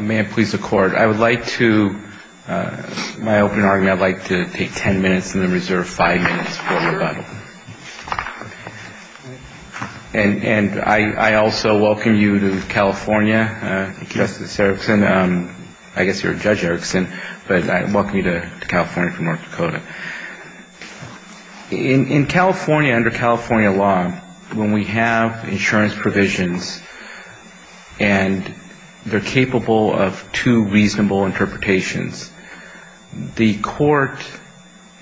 May I please accord. I would like to, my opening argument, I would like to take ten minutes and then reserve five minutes for rebuttal. And I also welcome you to California, Justice Erickson. I guess you're Judge Erickson, but I welcome you to California from North Dakota. In California, under California law, when we have insurance provisions and they're capable of two reasonable interpretations, the court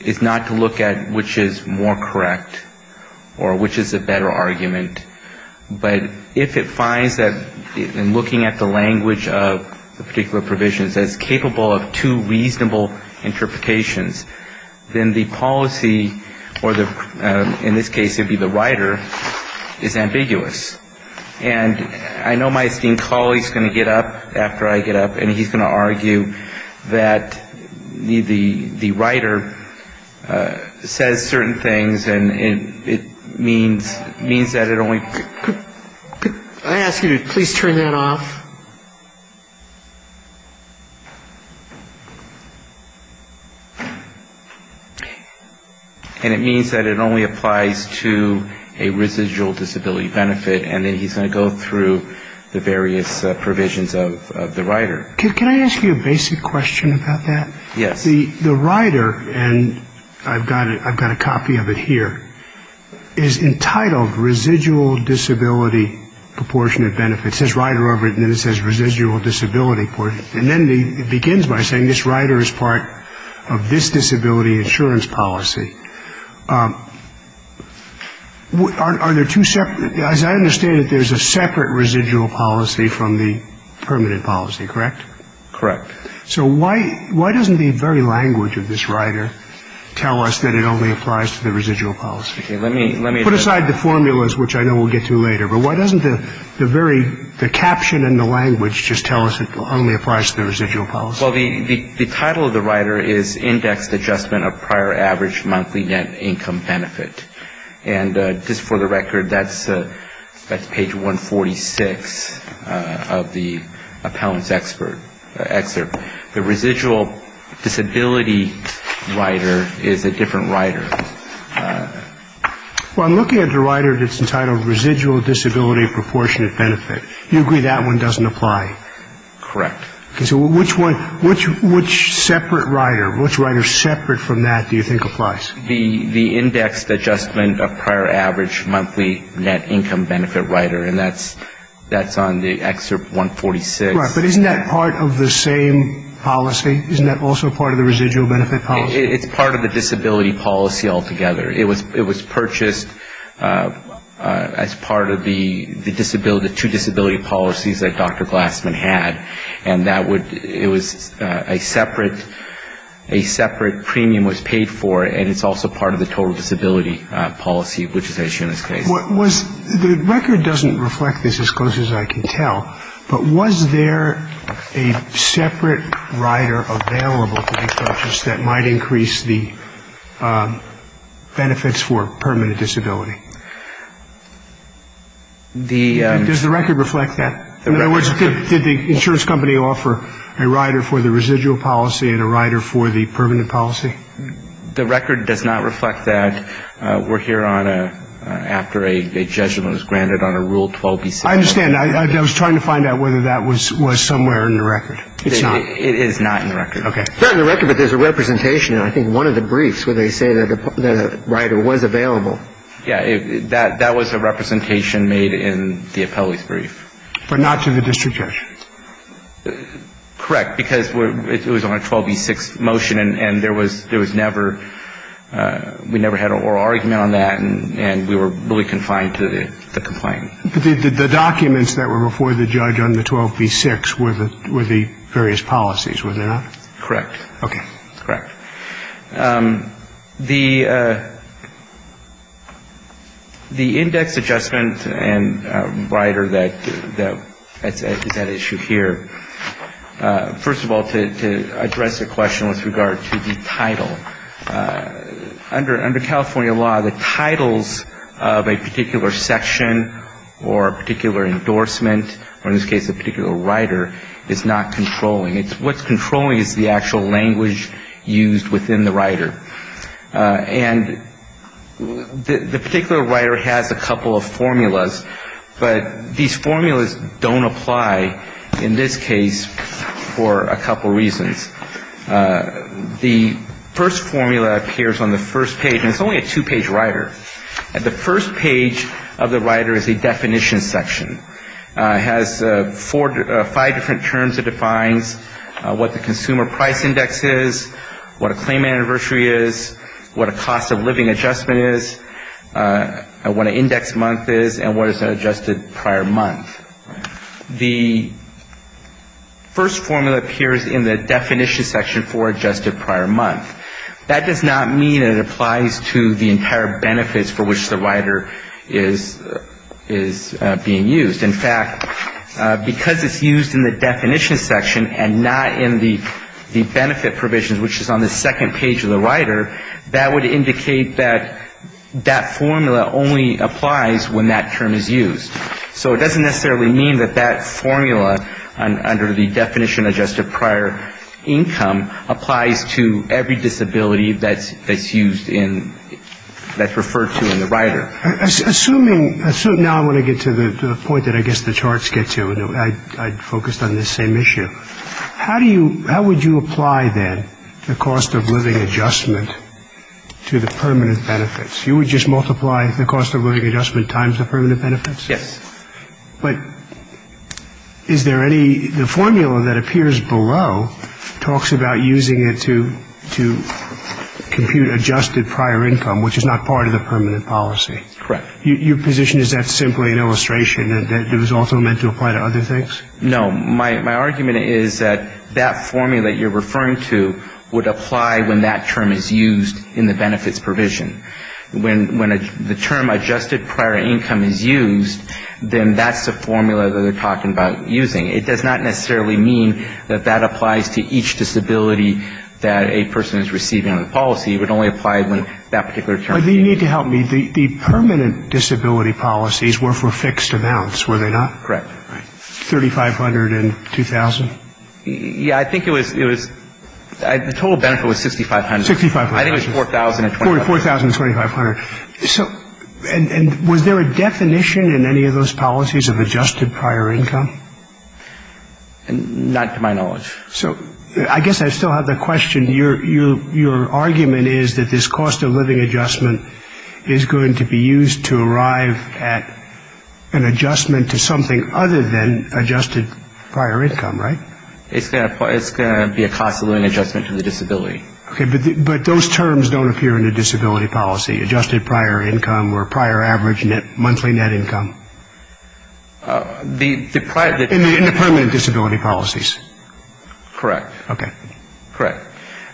is not to look at which is more correct or which is a better argument, but if it finds that in looking at the language of the particular provisions that it's capable of two reasonable interpretations, then the policy or the, in this case it would be the writer, is ambiguous. And I know my esteemed colleague is going to get up after I get up and he's going to argue that the writer says certain things and it means that it only applies to a residual disability benefit and then he's going to go through the various provisions of the writer. Can I ask you a basic question about that? Yes. The writer, and I've got a copy of it here, is entitled residual disability benefit. It says writer over it and then it says residual disability. And then it begins by saying this writer is part of this disability insurance policy. Are there two separate, as I understand it, there's a separate residual policy from the permanent policy, correct? Correct. So why doesn't the very language of this writer tell us that it only applies to the residual policy? Put aside the formulas, which I know we'll get to later. But why doesn't the very, the caption in the language just tell us it only applies to the residual policy? Well, the title of the writer is indexed adjustment of prior average monthly net income benefit. And just for the record, that's page 146 of the appellant's excerpt. The residual disability writer is a different writer. Well, I'm looking at the writer that's entitled residual disability proportionate benefit. Do you agree that one doesn't apply? Correct. Okay. So which one, which separate writer, which writer separate from that do you think applies? The indexed adjustment of prior average monthly net income benefit writer. And that's on the excerpt 146. Right. But isn't that part of the same policy? Isn't that also part of the residual benefit policy? It's part of the disability policy altogether. It was purchased as part of the disability, the two disability policies that Dr. Glassman had. And that would, it was a separate, a separate premium was paid for, and it's also part of the total disability policy, which is as shown in this case. The record doesn't reflect this as closely as I can tell, but was there a separate writer available to be purchased that might increase the benefits for permanent disability? Does the record reflect that? In other words, did the insurance company offer a writer for the residual policy and a writer for the permanent policy? The record does not reflect that. We're here on a, after a judgment was granted on a Rule 12b6. I understand. I was trying to find out whether that was somewhere in the record. It's not. It is not in the record. Okay. It's not in the record, but there's a representation in I think one of the briefs where they say that a writer was available. Yeah. That was a representation made in the appellee's brief. But not to the district judge. Correct. Because it was on a 12b6 motion, and there was never, we never had an oral argument on that, and we were really confined to the complaint. The documents that were before the judge on the 12b6 were the various policies, were they not? Correct. Okay. Correct. The index adjustment and writer that is at issue here, first of all, to address a question with regard to the title. Under California law, the titles of a particular section or a particular endorsement, or in this case a particular writer, is not controlling. What's controlling is the actual language used within the writer. And the particular writer has a couple of formulas, but these formulas don't apply in this case for a couple reasons. The first formula appears on the first page, and it's only a two-page writer. The first page of the writer is a definition section. It has five different terms. It defines what the consumer price index is, what a claim anniversary is, what a cost of living adjustment is, what an index month is, and what is an adjusted prior month. The first formula appears in the definition section for adjusted prior month. That does not mean it applies to the entire benefits for which the writer is being used. In fact, because it's used in the definition section and not in the benefit provisions, which is on the second page of the writer, that would indicate that that formula only applies when that term is used. So it doesn't necessarily mean that that formula, under the definition of adjusted prior income, applies to every disability that's used in, that's referred to in the writer. Assuming, now I want to get to the point that I guess the charts get to, and I focused on this same issue. How do you, how would you apply, then, the cost of living adjustment to the permanent benefits? You would just multiply the cost of living adjustment times the permanent benefits? Yes. But is there any, the formula that appears below talks about using it to compute adjusted prior income, which is not part of the permanent policy. Correct. Your position, is that simply an illustration that it was also meant to apply to other things? No. My argument is that that formula that you're referring to would apply when that term is used in the benefits provision. When the term adjusted prior income is used, then that's the formula that they're talking about using. It does not necessarily mean that that applies to each disability that a person is receiving on the policy. It would only apply when that particular term is used. Do you need to help me? The permanent disability policies were for fixed amounts, were they not? Correct. 3,500 and 2,000? Yeah, I think it was, the total benefit was 6,500. 6,500. I think it was 4,000. 4,000 and 2,500. So, and was there a definition in any of those policies of adjusted prior income? Not to my knowledge. So, I guess I still have the question. Your argument is that this cost of living adjustment is going to be used to arrive at an adjustment to something other than adjusted prior income, right? It's going to be a cost of living adjustment to the disability. Okay. But those terms don't appear in the disability policy, adjusted prior income or prior average monthly net income? In the permanent disability policies? Correct. Okay. Correct.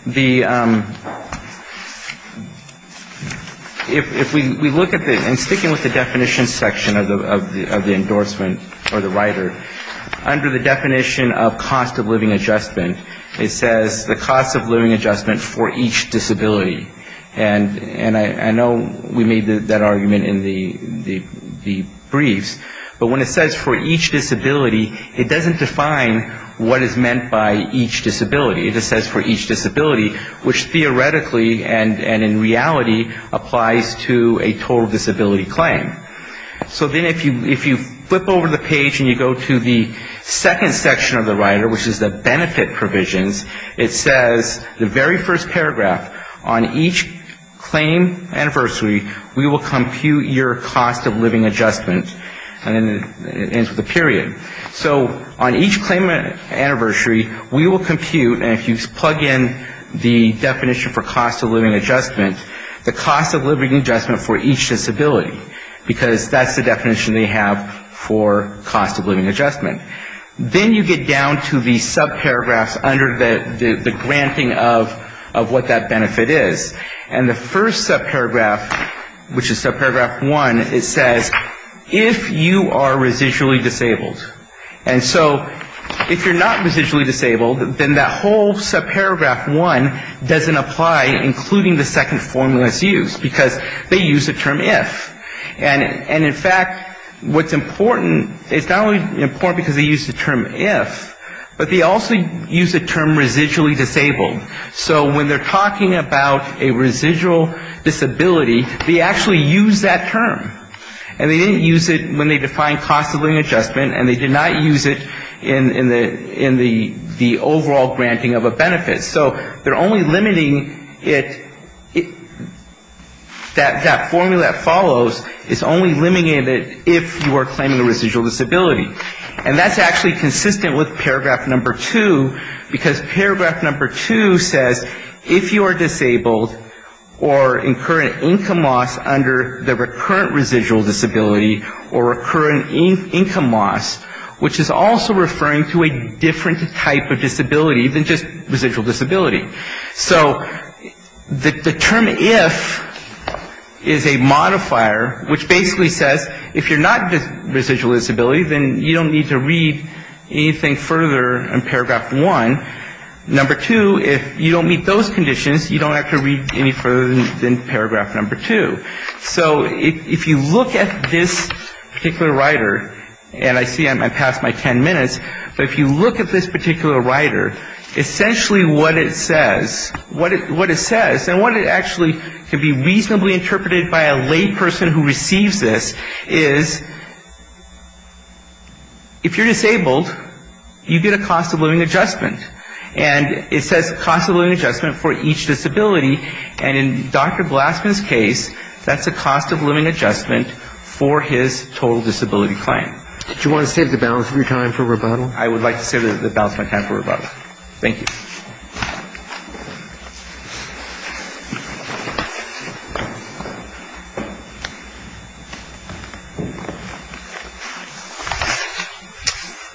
If we look at the, and sticking with the definition section of the endorsement or the rider, under the definition of cost of living adjustment, it says the cost of living adjustment for each disability. And I know we made that argument in the briefs. But when it says for each disability, it doesn't define what is meant by each disability. It just says for each disability, which theoretically and in reality applies to a total disability claim. So then if you flip over the page and you go to the second section of the rider, which is the benefit provisions, it says the very first paragraph, on each claim anniversary, we will compute your cost of living adjustment. And it ends with a period. So on each claim anniversary, we will compute, and if you plug in the definition for cost of living adjustment, the cost of living adjustment for each disability. Because that's the definition they have for cost of living adjustment. Then you get down to the subparagraphs under the granting of what that benefit is. And the first subparagraph, which is subparagraph one, it says if you are residually disabled. And so if you're not residually disabled, then that whole subparagraph one doesn't apply, including the second formula that's used. Because they use the term if. And in fact, what's important, it's not only important because they use the term if, but they also use the term residually disabled. So when they're talking about a residual disability, they actually use that term. And they didn't use it when they defined cost of living adjustment, and they did not use it in the overall granting of a benefit. So they're only limiting it, that formula that follows is only limiting it if you are claiming a residual disability. And that's actually consistent with paragraph number two, because paragraph number two says if you are disabled or incur an income loss under the recurrent residual disability or recurrent income loss, which is also referring to a different type of disability than just residual disability. So the term if is a modifier, which basically says if you're not residually disabled, then you don't need to read anything further in paragraph one. Number two, if you don't meet those conditions, you don't have to read any further than paragraph number two. So if you look at this particular rider, and I see I'm past my ten minutes, but if you look at this particular rider, essentially what it says, what it says, and what it actually can be reasonably interpreted by a lay person who receives this is if you're disabled, you get a cost-of-living adjustment. And it says cost-of-living adjustment for each disability. And in Dr. Blassman's case, that's a cost-of-living adjustment for his total disability claim. Do you want to save the balance of your time for rebuttal? I would like to save the balance of my time for rebuttal. Thank you.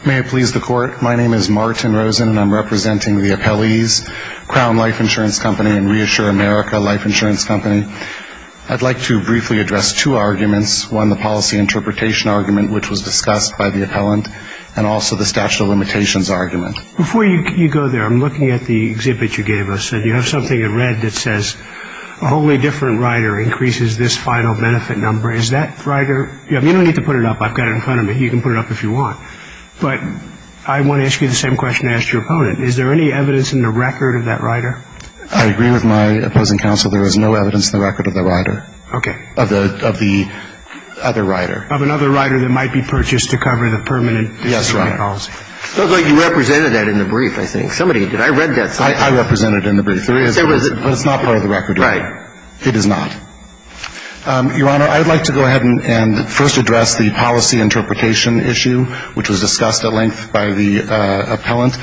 May it please the Court. My name is Martin Rosen, and I'm representing the appellees, Crown Life Insurance Company and Reassure America Life Insurance Company. I'd like to briefly address two arguments, one, the policy interpretation argument, which was discussed by the appellant, and also the statute of limitations argument. You have something in red that says a wholly different rider increases this final benefit number. Is that rider? You don't need to put it up. I've got it in front of me. You can put it up if you want. But I want to ask you the same question I asked your opponent. Is there any evidence in the record of that rider? I agree with my opposing counsel. There is no evidence in the record of the rider. Okay. Of the other rider. Of another rider that might be purchased to cover the permanent disability policy. Yes, right. It looks like you represented that in the brief, I think. Did I read that somewhere? I represented it in the brief. But it's not part of the record. Right. It is not. Your Honor, I'd like to go ahead and first address the policy interpretation issue, which was discussed at length by the appellant.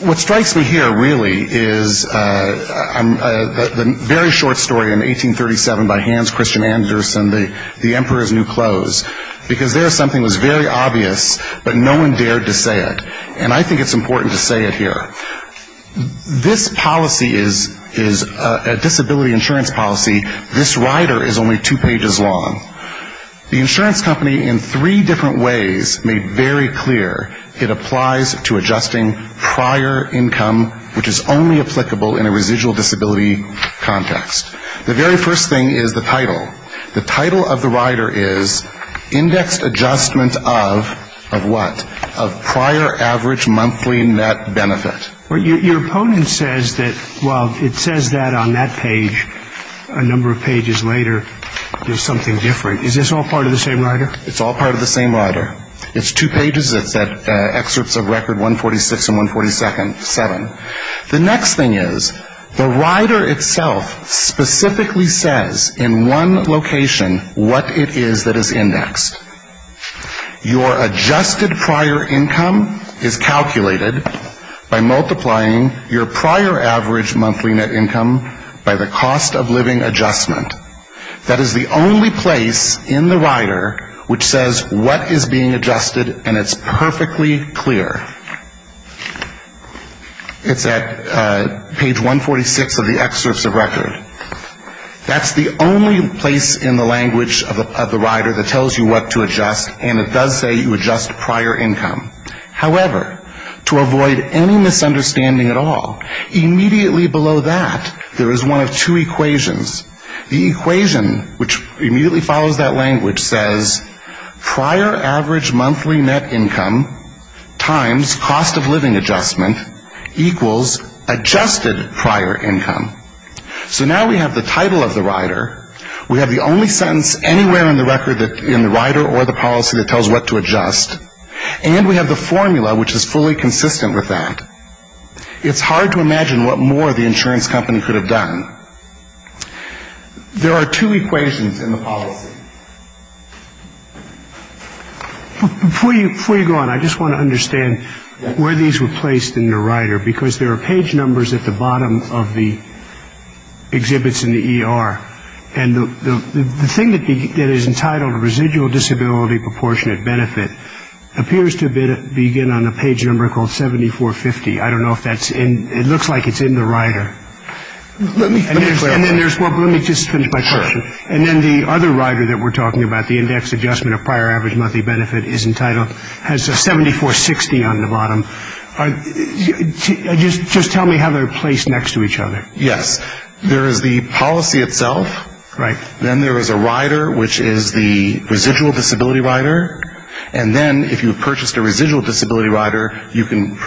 What strikes me here, really, is the very short story in 1837 by Hans Christian Andersen, The Emperor's New Clothes, because there something was very obvious, but no one dared to say it. And I think it's important to say it here. This policy is a disability insurance policy. This rider is only two pages long. The insurance company, in three different ways, made very clear it applies to adjusting prior income, which is only applicable in a residual disability context. The very first thing is the title. The title of the rider is Indexed Adjustment of, of what? Of Prior Average Monthly Net Benefit. Your opponent says that, well, it says that on that page. A number of pages later, there's something different. Is this all part of the same rider? It's all part of the same rider. It's two pages. It's at excerpts of Record 146 and 147. The next thing is the rider itself specifically says in one location what it is that is indexed. Your adjusted prior income is calculated by multiplying your prior average monthly net income by the cost of living adjustment. That is the only place in the rider which says what is being adjusted, and it's perfectly clear. It's at page 146 of the excerpts of Record. That's the only place in the language of the rider that tells you what to adjust, and it does say you adjust prior income. However, to avoid any misunderstanding at all, immediately below that, there is one of two equations. The equation which immediately follows that language says prior average monthly net income times cost of living adjustment equals adjusted prior income. So now we have the title of the rider. We have the only sentence anywhere in the rider or the policy that tells what to adjust, and we have the formula which is fully consistent with that. It's hard to imagine what more the insurance company could have done. There are two equations in the policy. Before you go on, I just want to understand where these were placed in the rider, because there are page numbers at the bottom of the exhibits in the ER, and the thing that is entitled residual disability proportionate benefit appears to begin on a page number called 7450. I don't know if that's in it. It looks like it's in the rider. Let me just finish my question. And then the other rider that we're talking about, the index adjustment of prior average monthly benefit, has a 7460 on the bottom. Just tell me how they're placed next to each other. Yes. There is the policy itself. Right. Then there is a rider, which is the residual disability rider. And then if you've purchased a residual disability rider, you can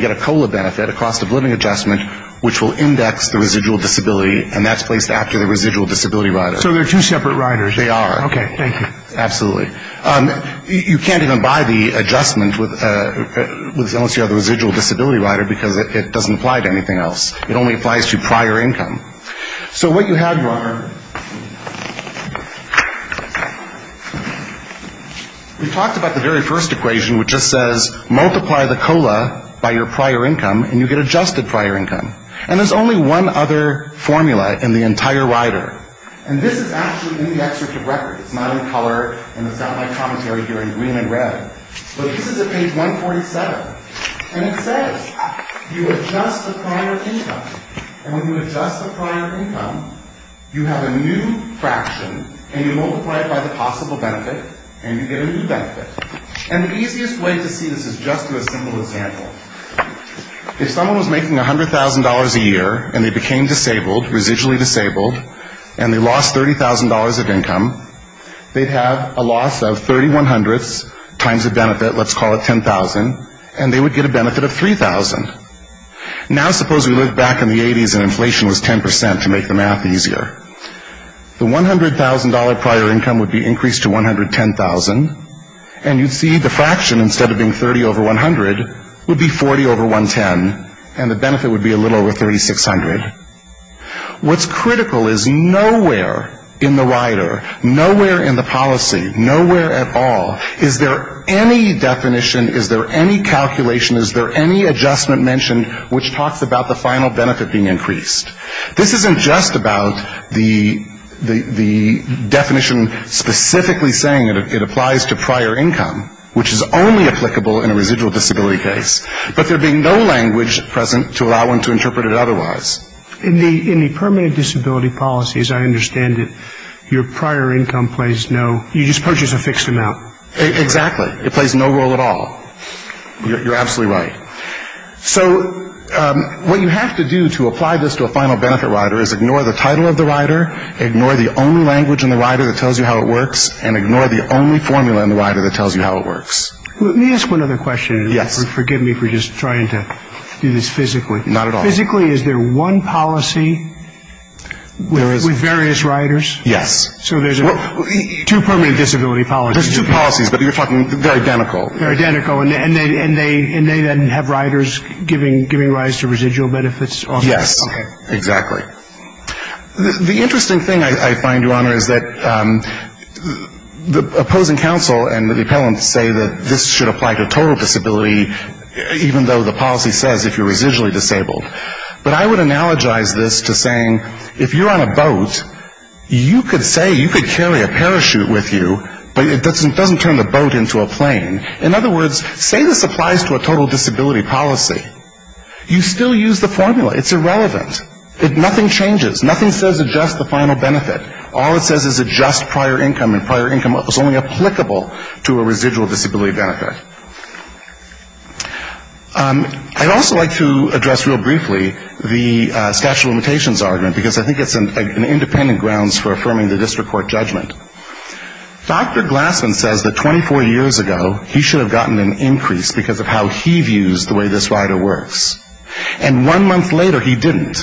get a COLA benefit, a cost of living adjustment, which will index the residual disability, and that's placed after the residual disability rider. So they're two separate riders. They are. Okay. Thank you. Absolutely. You can't even buy the adjustment unless you have the residual disability rider, because it doesn't apply to anything else. It only applies to prior income. So what you have, Your Honor, we talked about the very first equation, which just says multiply the COLA by your prior income, and you get adjusted prior income. And there's only one other formula in the entire rider. And this is actually in the excerpt of record. It's not in color, and it's not in my commentary here in green and red. But this is at page 147, and it says you adjust the prior income. And when you adjust the prior income, you have a new fraction, and you multiply it by the possible benefit, and you get a new benefit. And the easiest way to see this is just through a simple example. If someone was making $100,000 a year and they became disabled, residually disabled, and they lost $30,000 of income, they'd have a loss of 30 one-hundredths times the benefit. Let's call it $10,000. And they would get a benefit of $3,000. Now suppose we lived back in the 80s and inflation was 10% to make the math easier. The $100,000 prior income would be increased to $110,000, and you'd see the fraction, instead of being 30 over 100, would be 40 over 110, and the benefit would be a little over 3,600. What's critical is nowhere in the rider, nowhere in the policy, nowhere at all, is there any definition, is there any calculation, is there any adjustment mentioned which talks about the final benefit being increased? This isn't just about the definition specifically saying it applies to prior income, which is only applicable in a residual disability case, but there being no language present to allow one to interpret it otherwise. In the permanent disability policy, as I understand it, your prior income plays no, you just purchase a fixed amount. Exactly. It plays no role at all. You're absolutely right. So what you have to do to apply this to a final benefit rider is ignore the title of the rider, ignore the only language in the rider that tells you how it works, and ignore the only formula in the rider that tells you how it works. Let me ask one other question. Yes. Forgive me for just trying to do this physically. Not at all. Physically, is there one policy with various riders? Yes. So there's two permanent disability policies. There's two policies, but you're talking, they're identical. They're identical, and they then have riders giving rise to residual benefits? Yes. Okay. Exactly. The interesting thing, I find, Your Honor, is that the opposing counsel and the appellants say that this should apply to total disability, even though the policy says if you're residually disabled. But I would analogize this to saying if you're on a boat, you could say you could carry a parachute with you, but it doesn't turn the boat into a plane. In other words, say this applies to a total disability policy. You still use the formula. It's irrelevant. Nothing changes. Nothing says adjust the final benefit. All it says is adjust prior income, and prior income is only applicable to a residual disability benefit. I'd also like to address real briefly the statute of limitations argument, because I think it's an independent grounds for affirming the district court judgment. Dr. Glassman says that 24 years ago, he should have gotten an increase because of how he views the way this rider works. And one month later, he didn't.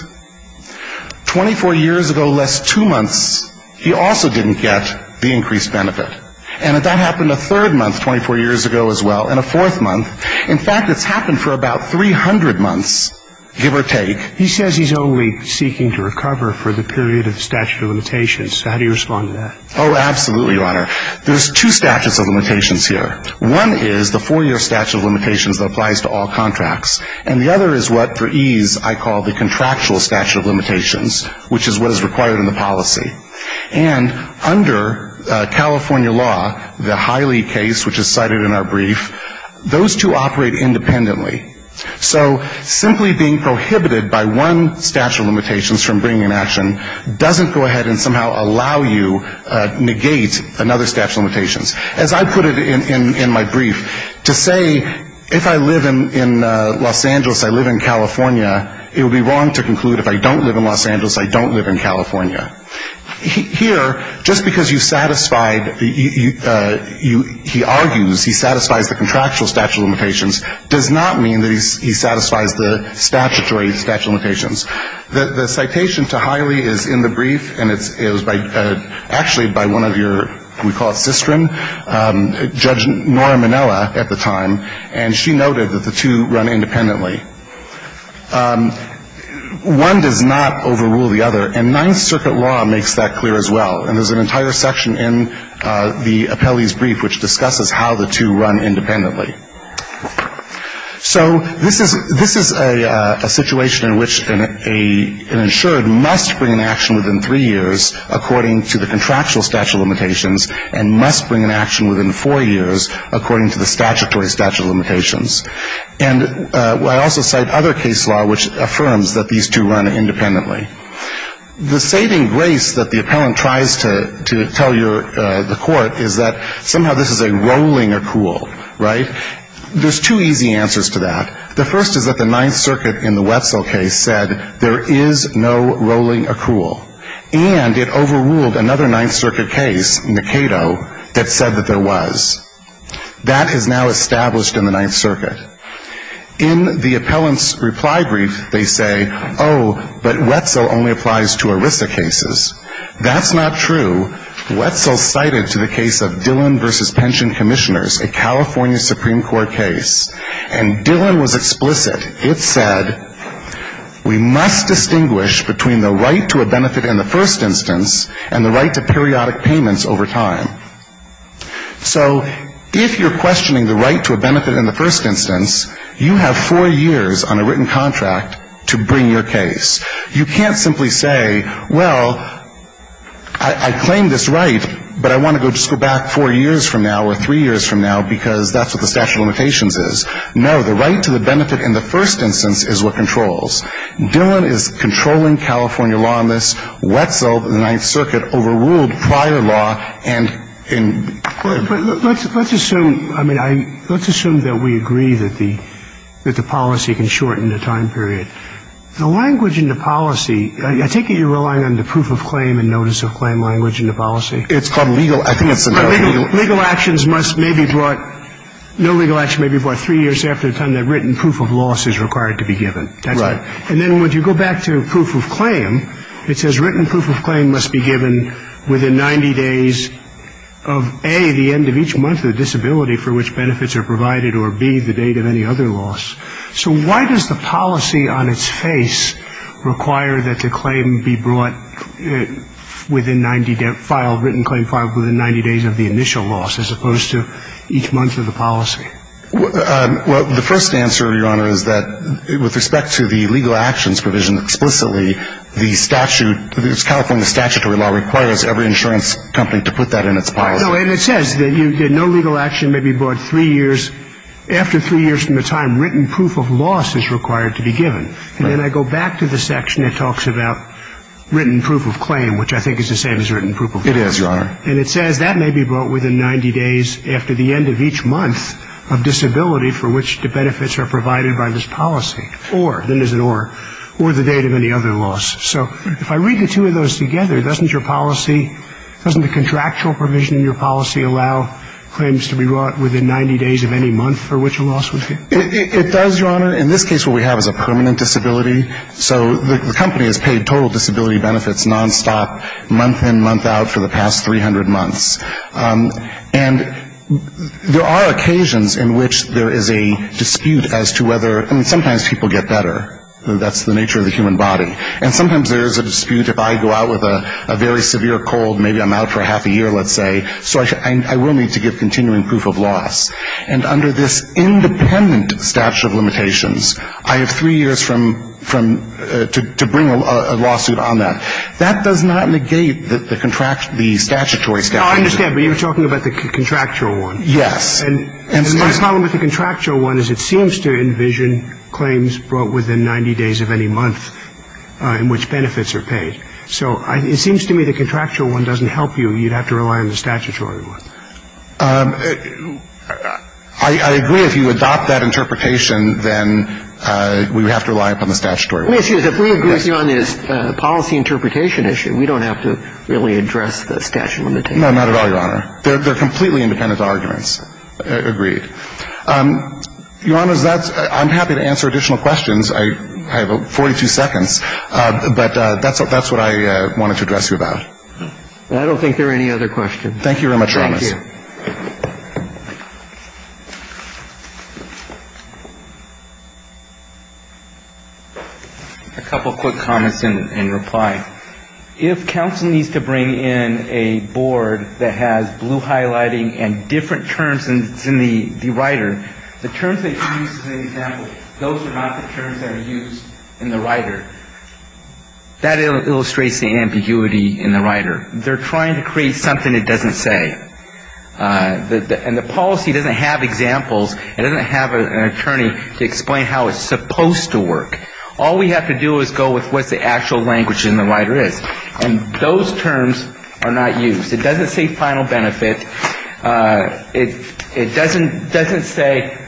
Twenty-four years ago, less two months, he also didn't get the increased benefit. And that happened a third month, 24 years ago as well, and a fourth month. In fact, it's happened for about 300 months, give or take. He says he's only seeking to recover for the period of statute of limitations. How do you respond to that? Oh, absolutely, Your Honor. There's two statutes of limitations here. One is the four-year statute of limitations that applies to all contracts, and the other is what, for ease, I call the contractual statute of limitations, which is what is required in the policy. And under California law, the Hiley case, which is cited in our brief, those two operate independently. So simply being prohibited by one statute of limitations from bringing an action doesn't go ahead and somehow allow you to negate another statute of limitations. As I put it in my brief, to say if I live in Los Angeles, I live in California, it would be wrong to conclude if I don't live in Los Angeles, I don't live in California. Here, just because you satisfied the you he argues, he satisfies the contractual statute of limitations, does not mean that he satisfies the statutory statute of limitations. The citation to Hiley is in the brief, and it was actually by one of your, we call it Sistren, Judge Nora Minella at the time, and she noted that the two run independently. One does not overrule the other, and Ninth Circuit law makes that clear as well. And there's an entire section in the appellee's brief which discusses how the two run independently. So this is a situation in which an insured must bring an action within three years according to the contractual statute of limitations and must bring an action within four years according to the statutory statute of limitations. And I also cite other case law which affirms that these two run independently. The saving grace that the appellant tries to tell the court is that somehow this is a rolling accrual, right? There's two easy answers to that. The first is that the Ninth Circuit in the Wetzel case said there is no rolling accrual, and it overruled another Ninth Circuit case, Nakedo, that said that there was. That is now established in the Ninth Circuit. In the appellant's reply brief, they say, oh, but Wetzel only applies to ERISA cases. That's not true. Wetzel cited to the case of Dillon v. Pension Commissioners, a California Supreme Court case, and Dillon was explicit. It said we must distinguish between the right to a benefit in the first instance and the right to periodic payments over time. So if you're questioning the right to a benefit in the first instance, you have four years on a written contract to bring your case. You can't simply say, well, I claim this right, but I want to just go back four years from now or three years from now because that's what the statute of limitations is. No, the right to the benefit in the first instance is what controls. Dillon is controlling California law on this. Wetzel, the Ninth Circuit, overruled prior law and in court. But let's assume, I mean, let's assume that we agree that the policy can shorten the time period. The language in the policy, I take it you're relying on the proof of claim and notice of claim language in the policy? It's called legal. I think it's the legal. Legal actions must maybe brought, no legal action may be brought three years after the time that written proof of loss is required to be given. Right. And then when you go back to proof of claim, it says written proof of claim must be given within 90 days of, A, the end of each month of disability for which benefits are provided, or B, the date of any other loss. So why does the policy on its face require that the claim be brought within 90, filed, written claim filed within 90 days of the initial loss as opposed to each month of the policy? Well, the first answer, Your Honor, is that with respect to the legal actions provision explicitly, the statute, California statutory law requires every insurance company to put that in its policy. No, and it says that no legal action may be brought three years after three years from the time that written proof of loss is required to be given. Right. And then I go back to the section that talks about written proof of claim, which I think is the same as written proof of loss. It is, Your Honor. And it says that may be brought within 90 days after the end of each month of disability for which the benefits are provided by this policy, or, then there's an or, or the date of any other loss. So if I read the two of those together, doesn't your policy, doesn't the contractual provision in your policy allow claims to be brought within 90 days of any month for which a loss would be? It does, Your Honor. In this case, what we have is a permanent disability. So the company has paid total disability benefits nonstop, month in, month out, for the past 300 months. And there are occasions in which there is a dispute as to whether, I mean, sometimes people get better. That's the nature of the human body. And sometimes there is a dispute if I go out with a very severe cold, maybe I'm out for half a year, let's say, so I will need to give continuing proof of loss. And under this independent statute of limitations, I have three years from, to bring a lawsuit on that. That does not negate the statutory statute. I understand, but you're talking about the contractual one. Yes. And what's wrong with the contractual one is it seems to envision claims brought within 90 days of any month in which benefits are paid. So it seems to me the contractual one doesn't help you. I agree. If you adopt that interpretation, then we would have to rely upon the statutory one. Excuse me. If we agree on this policy interpretation issue, we don't have to really address the statute of limitations. No, not at all, Your Honor. They're completely independent arguments. Agreed. Your Honor, I'm happy to answer additional questions. I have 42 seconds. But that's what I wanted to address you about. I don't think there are any other questions. Thank you very much, Your Honor. Thank you. A couple of quick comments in reply. If counsel needs to bring in a board that has blue highlighting and different terms in the rider, the terms they use as an example, those are not the terms that are used in the rider. That illustrates the ambiguity in the rider. They're trying to create something it doesn't say. And the policy doesn't have examples. It doesn't have an attorney to explain how it's supposed to work. All we have to do is go with what the actual language in the rider is. And those terms are not used. It doesn't say final benefit. It doesn't say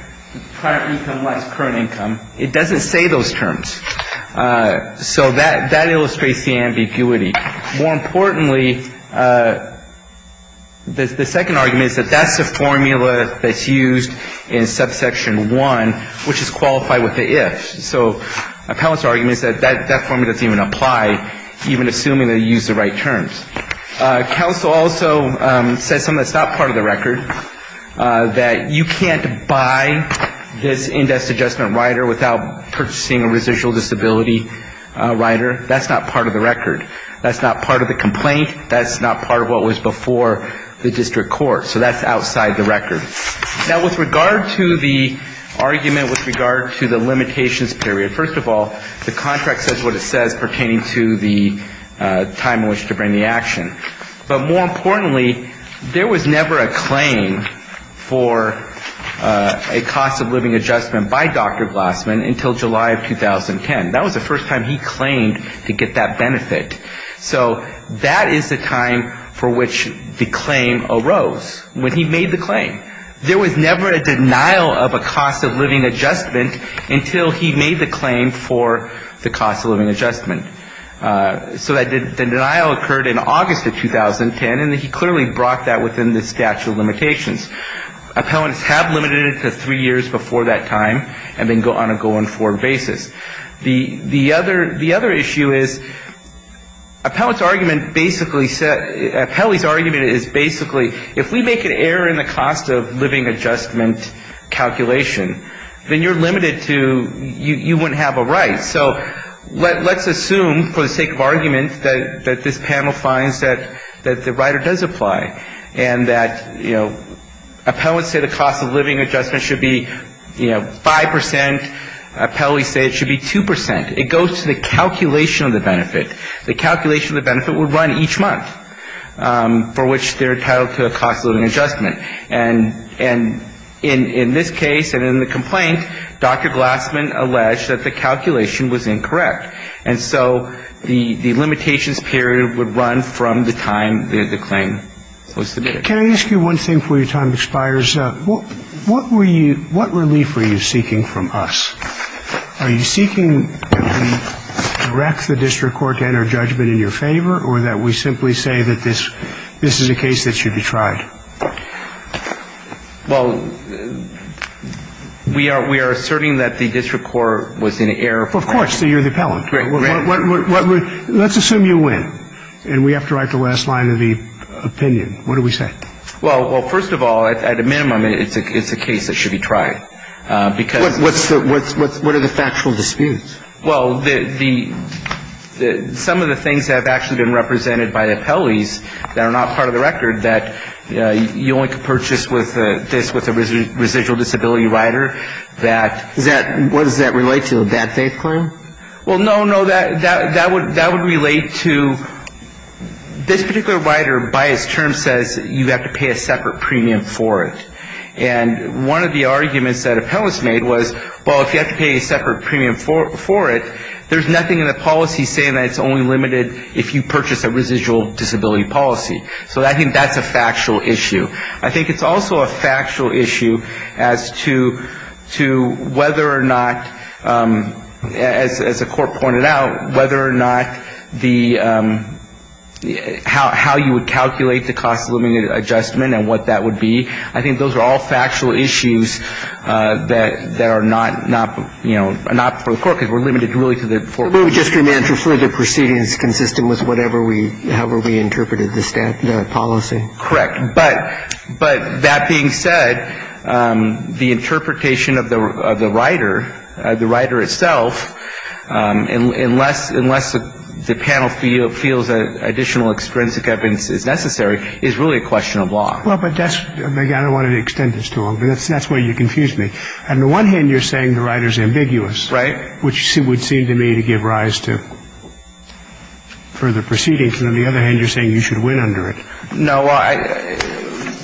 current income less current income. It doesn't say those terms. So that illustrates the ambiguity. More importantly, the second argument is that that's the formula that's used in subsection 1, which is qualified with the ifs. So a counsel argument is that that formula doesn't even apply, even assuming they use the right terms. Counsel also says something that's not part of the record, that you can't buy this index adjustment rider without purchasing a residual disability rider. That's not part of the record. That's not part of the complaint. That's not part of what was before the district court. So that's outside the record. Now, with regard to the argument with regard to the limitations period, first of all, the contract says what it says pertaining to the time in which to bring the action. But more importantly, there was never a claim for a cost of living adjustment by Dr. Glassman until July of 2010. That was the first time he claimed to get that benefit. So that is the time for which the claim arose, when he made the claim. There was never a denial of a cost of living adjustment until he made the claim for the cost of living adjustment. So the denial occurred in August of 2010, and he clearly brought that within the statute of limitations. Appellants have limited it to three years before that time, and then on a go-and-forward basis. The other issue is appellant's argument basically said, appellant's argument is basically if we make an error in the cost of living adjustment calculation, then you're limited to you wouldn't have a right. So let's assume for the sake of argument that this panel finds that the rider does apply, and that, you know, appellants say the cost of living adjustment should be, you know, 5%. Appellants say it should be 2%. It goes to the calculation of the benefit. The calculation of the benefit would run each month for which they're entitled to a cost of living adjustment. And in this case and in the complaint, Dr. Glassman alleged that the calculation was incorrect. And so the limitations period would run from the time that the claim was submitted. Can I ask you one thing before your time expires? What were you – what relief were you seeking from us? Are you seeking that we direct the district court to enter judgment in your favor or that we simply say that this is a case that should be tried? Well, we are asserting that the district court was in error. Well, of course, you're the appellant. Right. Let's assume you win, and we have to write the last line of the opinion. What do we say? Well, first of all, at a minimum, it's a case that should be tried. What are the factual disputes? Well, some of the things that have actually been represented by the appellees that are not part of the record, that you only can purchase this with a residual disability rider. What does that relate to, a bad faith claim? Well, no, no, that would relate to – this particular rider, by its term, says you have to pay a separate premium for it. And one of the arguments that appellants made was, well, if you have to pay a separate premium for it, there's nothing in the policy saying that it's only limited if you purchase a residual disability policy. So I think that's a factual issue. I think it's also a factual issue as to whether or not, as the court pointed out, whether or not the – how you would calculate the cost of limited adjustment and what that would be. I think those are all factual issues that are not, you know, not for the court, because we're limited really to the foreclosure. But we would just remand for further proceedings consistent with whatever we – however we interpreted the policy. Correct. But that being said, the interpretation of the rider, the rider itself, unless the panel feels additional extrinsic evidence is necessary, is really a question of law. Well, but that's – I don't want to extend this too long, but that's where you confuse me. On the one hand, you're saying the rider's ambiguous. Right. Which would seem to me to give rise to further proceedings. And on the other hand, you're saying you should win under it. No.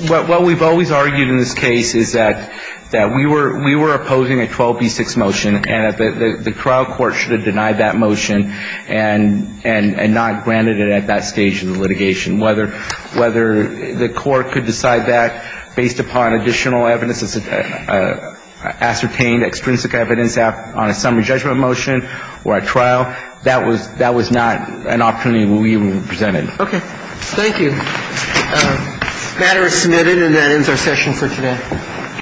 What we've always argued in this case is that we were opposing a 12B6 motion, and the trial court should have denied that motion and not granted it at that stage of the litigation. Whether the court could decide that based upon additional evidence, ascertained extrinsic evidence on a summary judgment motion or a trial, that was not an opportunity we represented. Okay. Thank you. The matter is submitted, and that ends our session for today.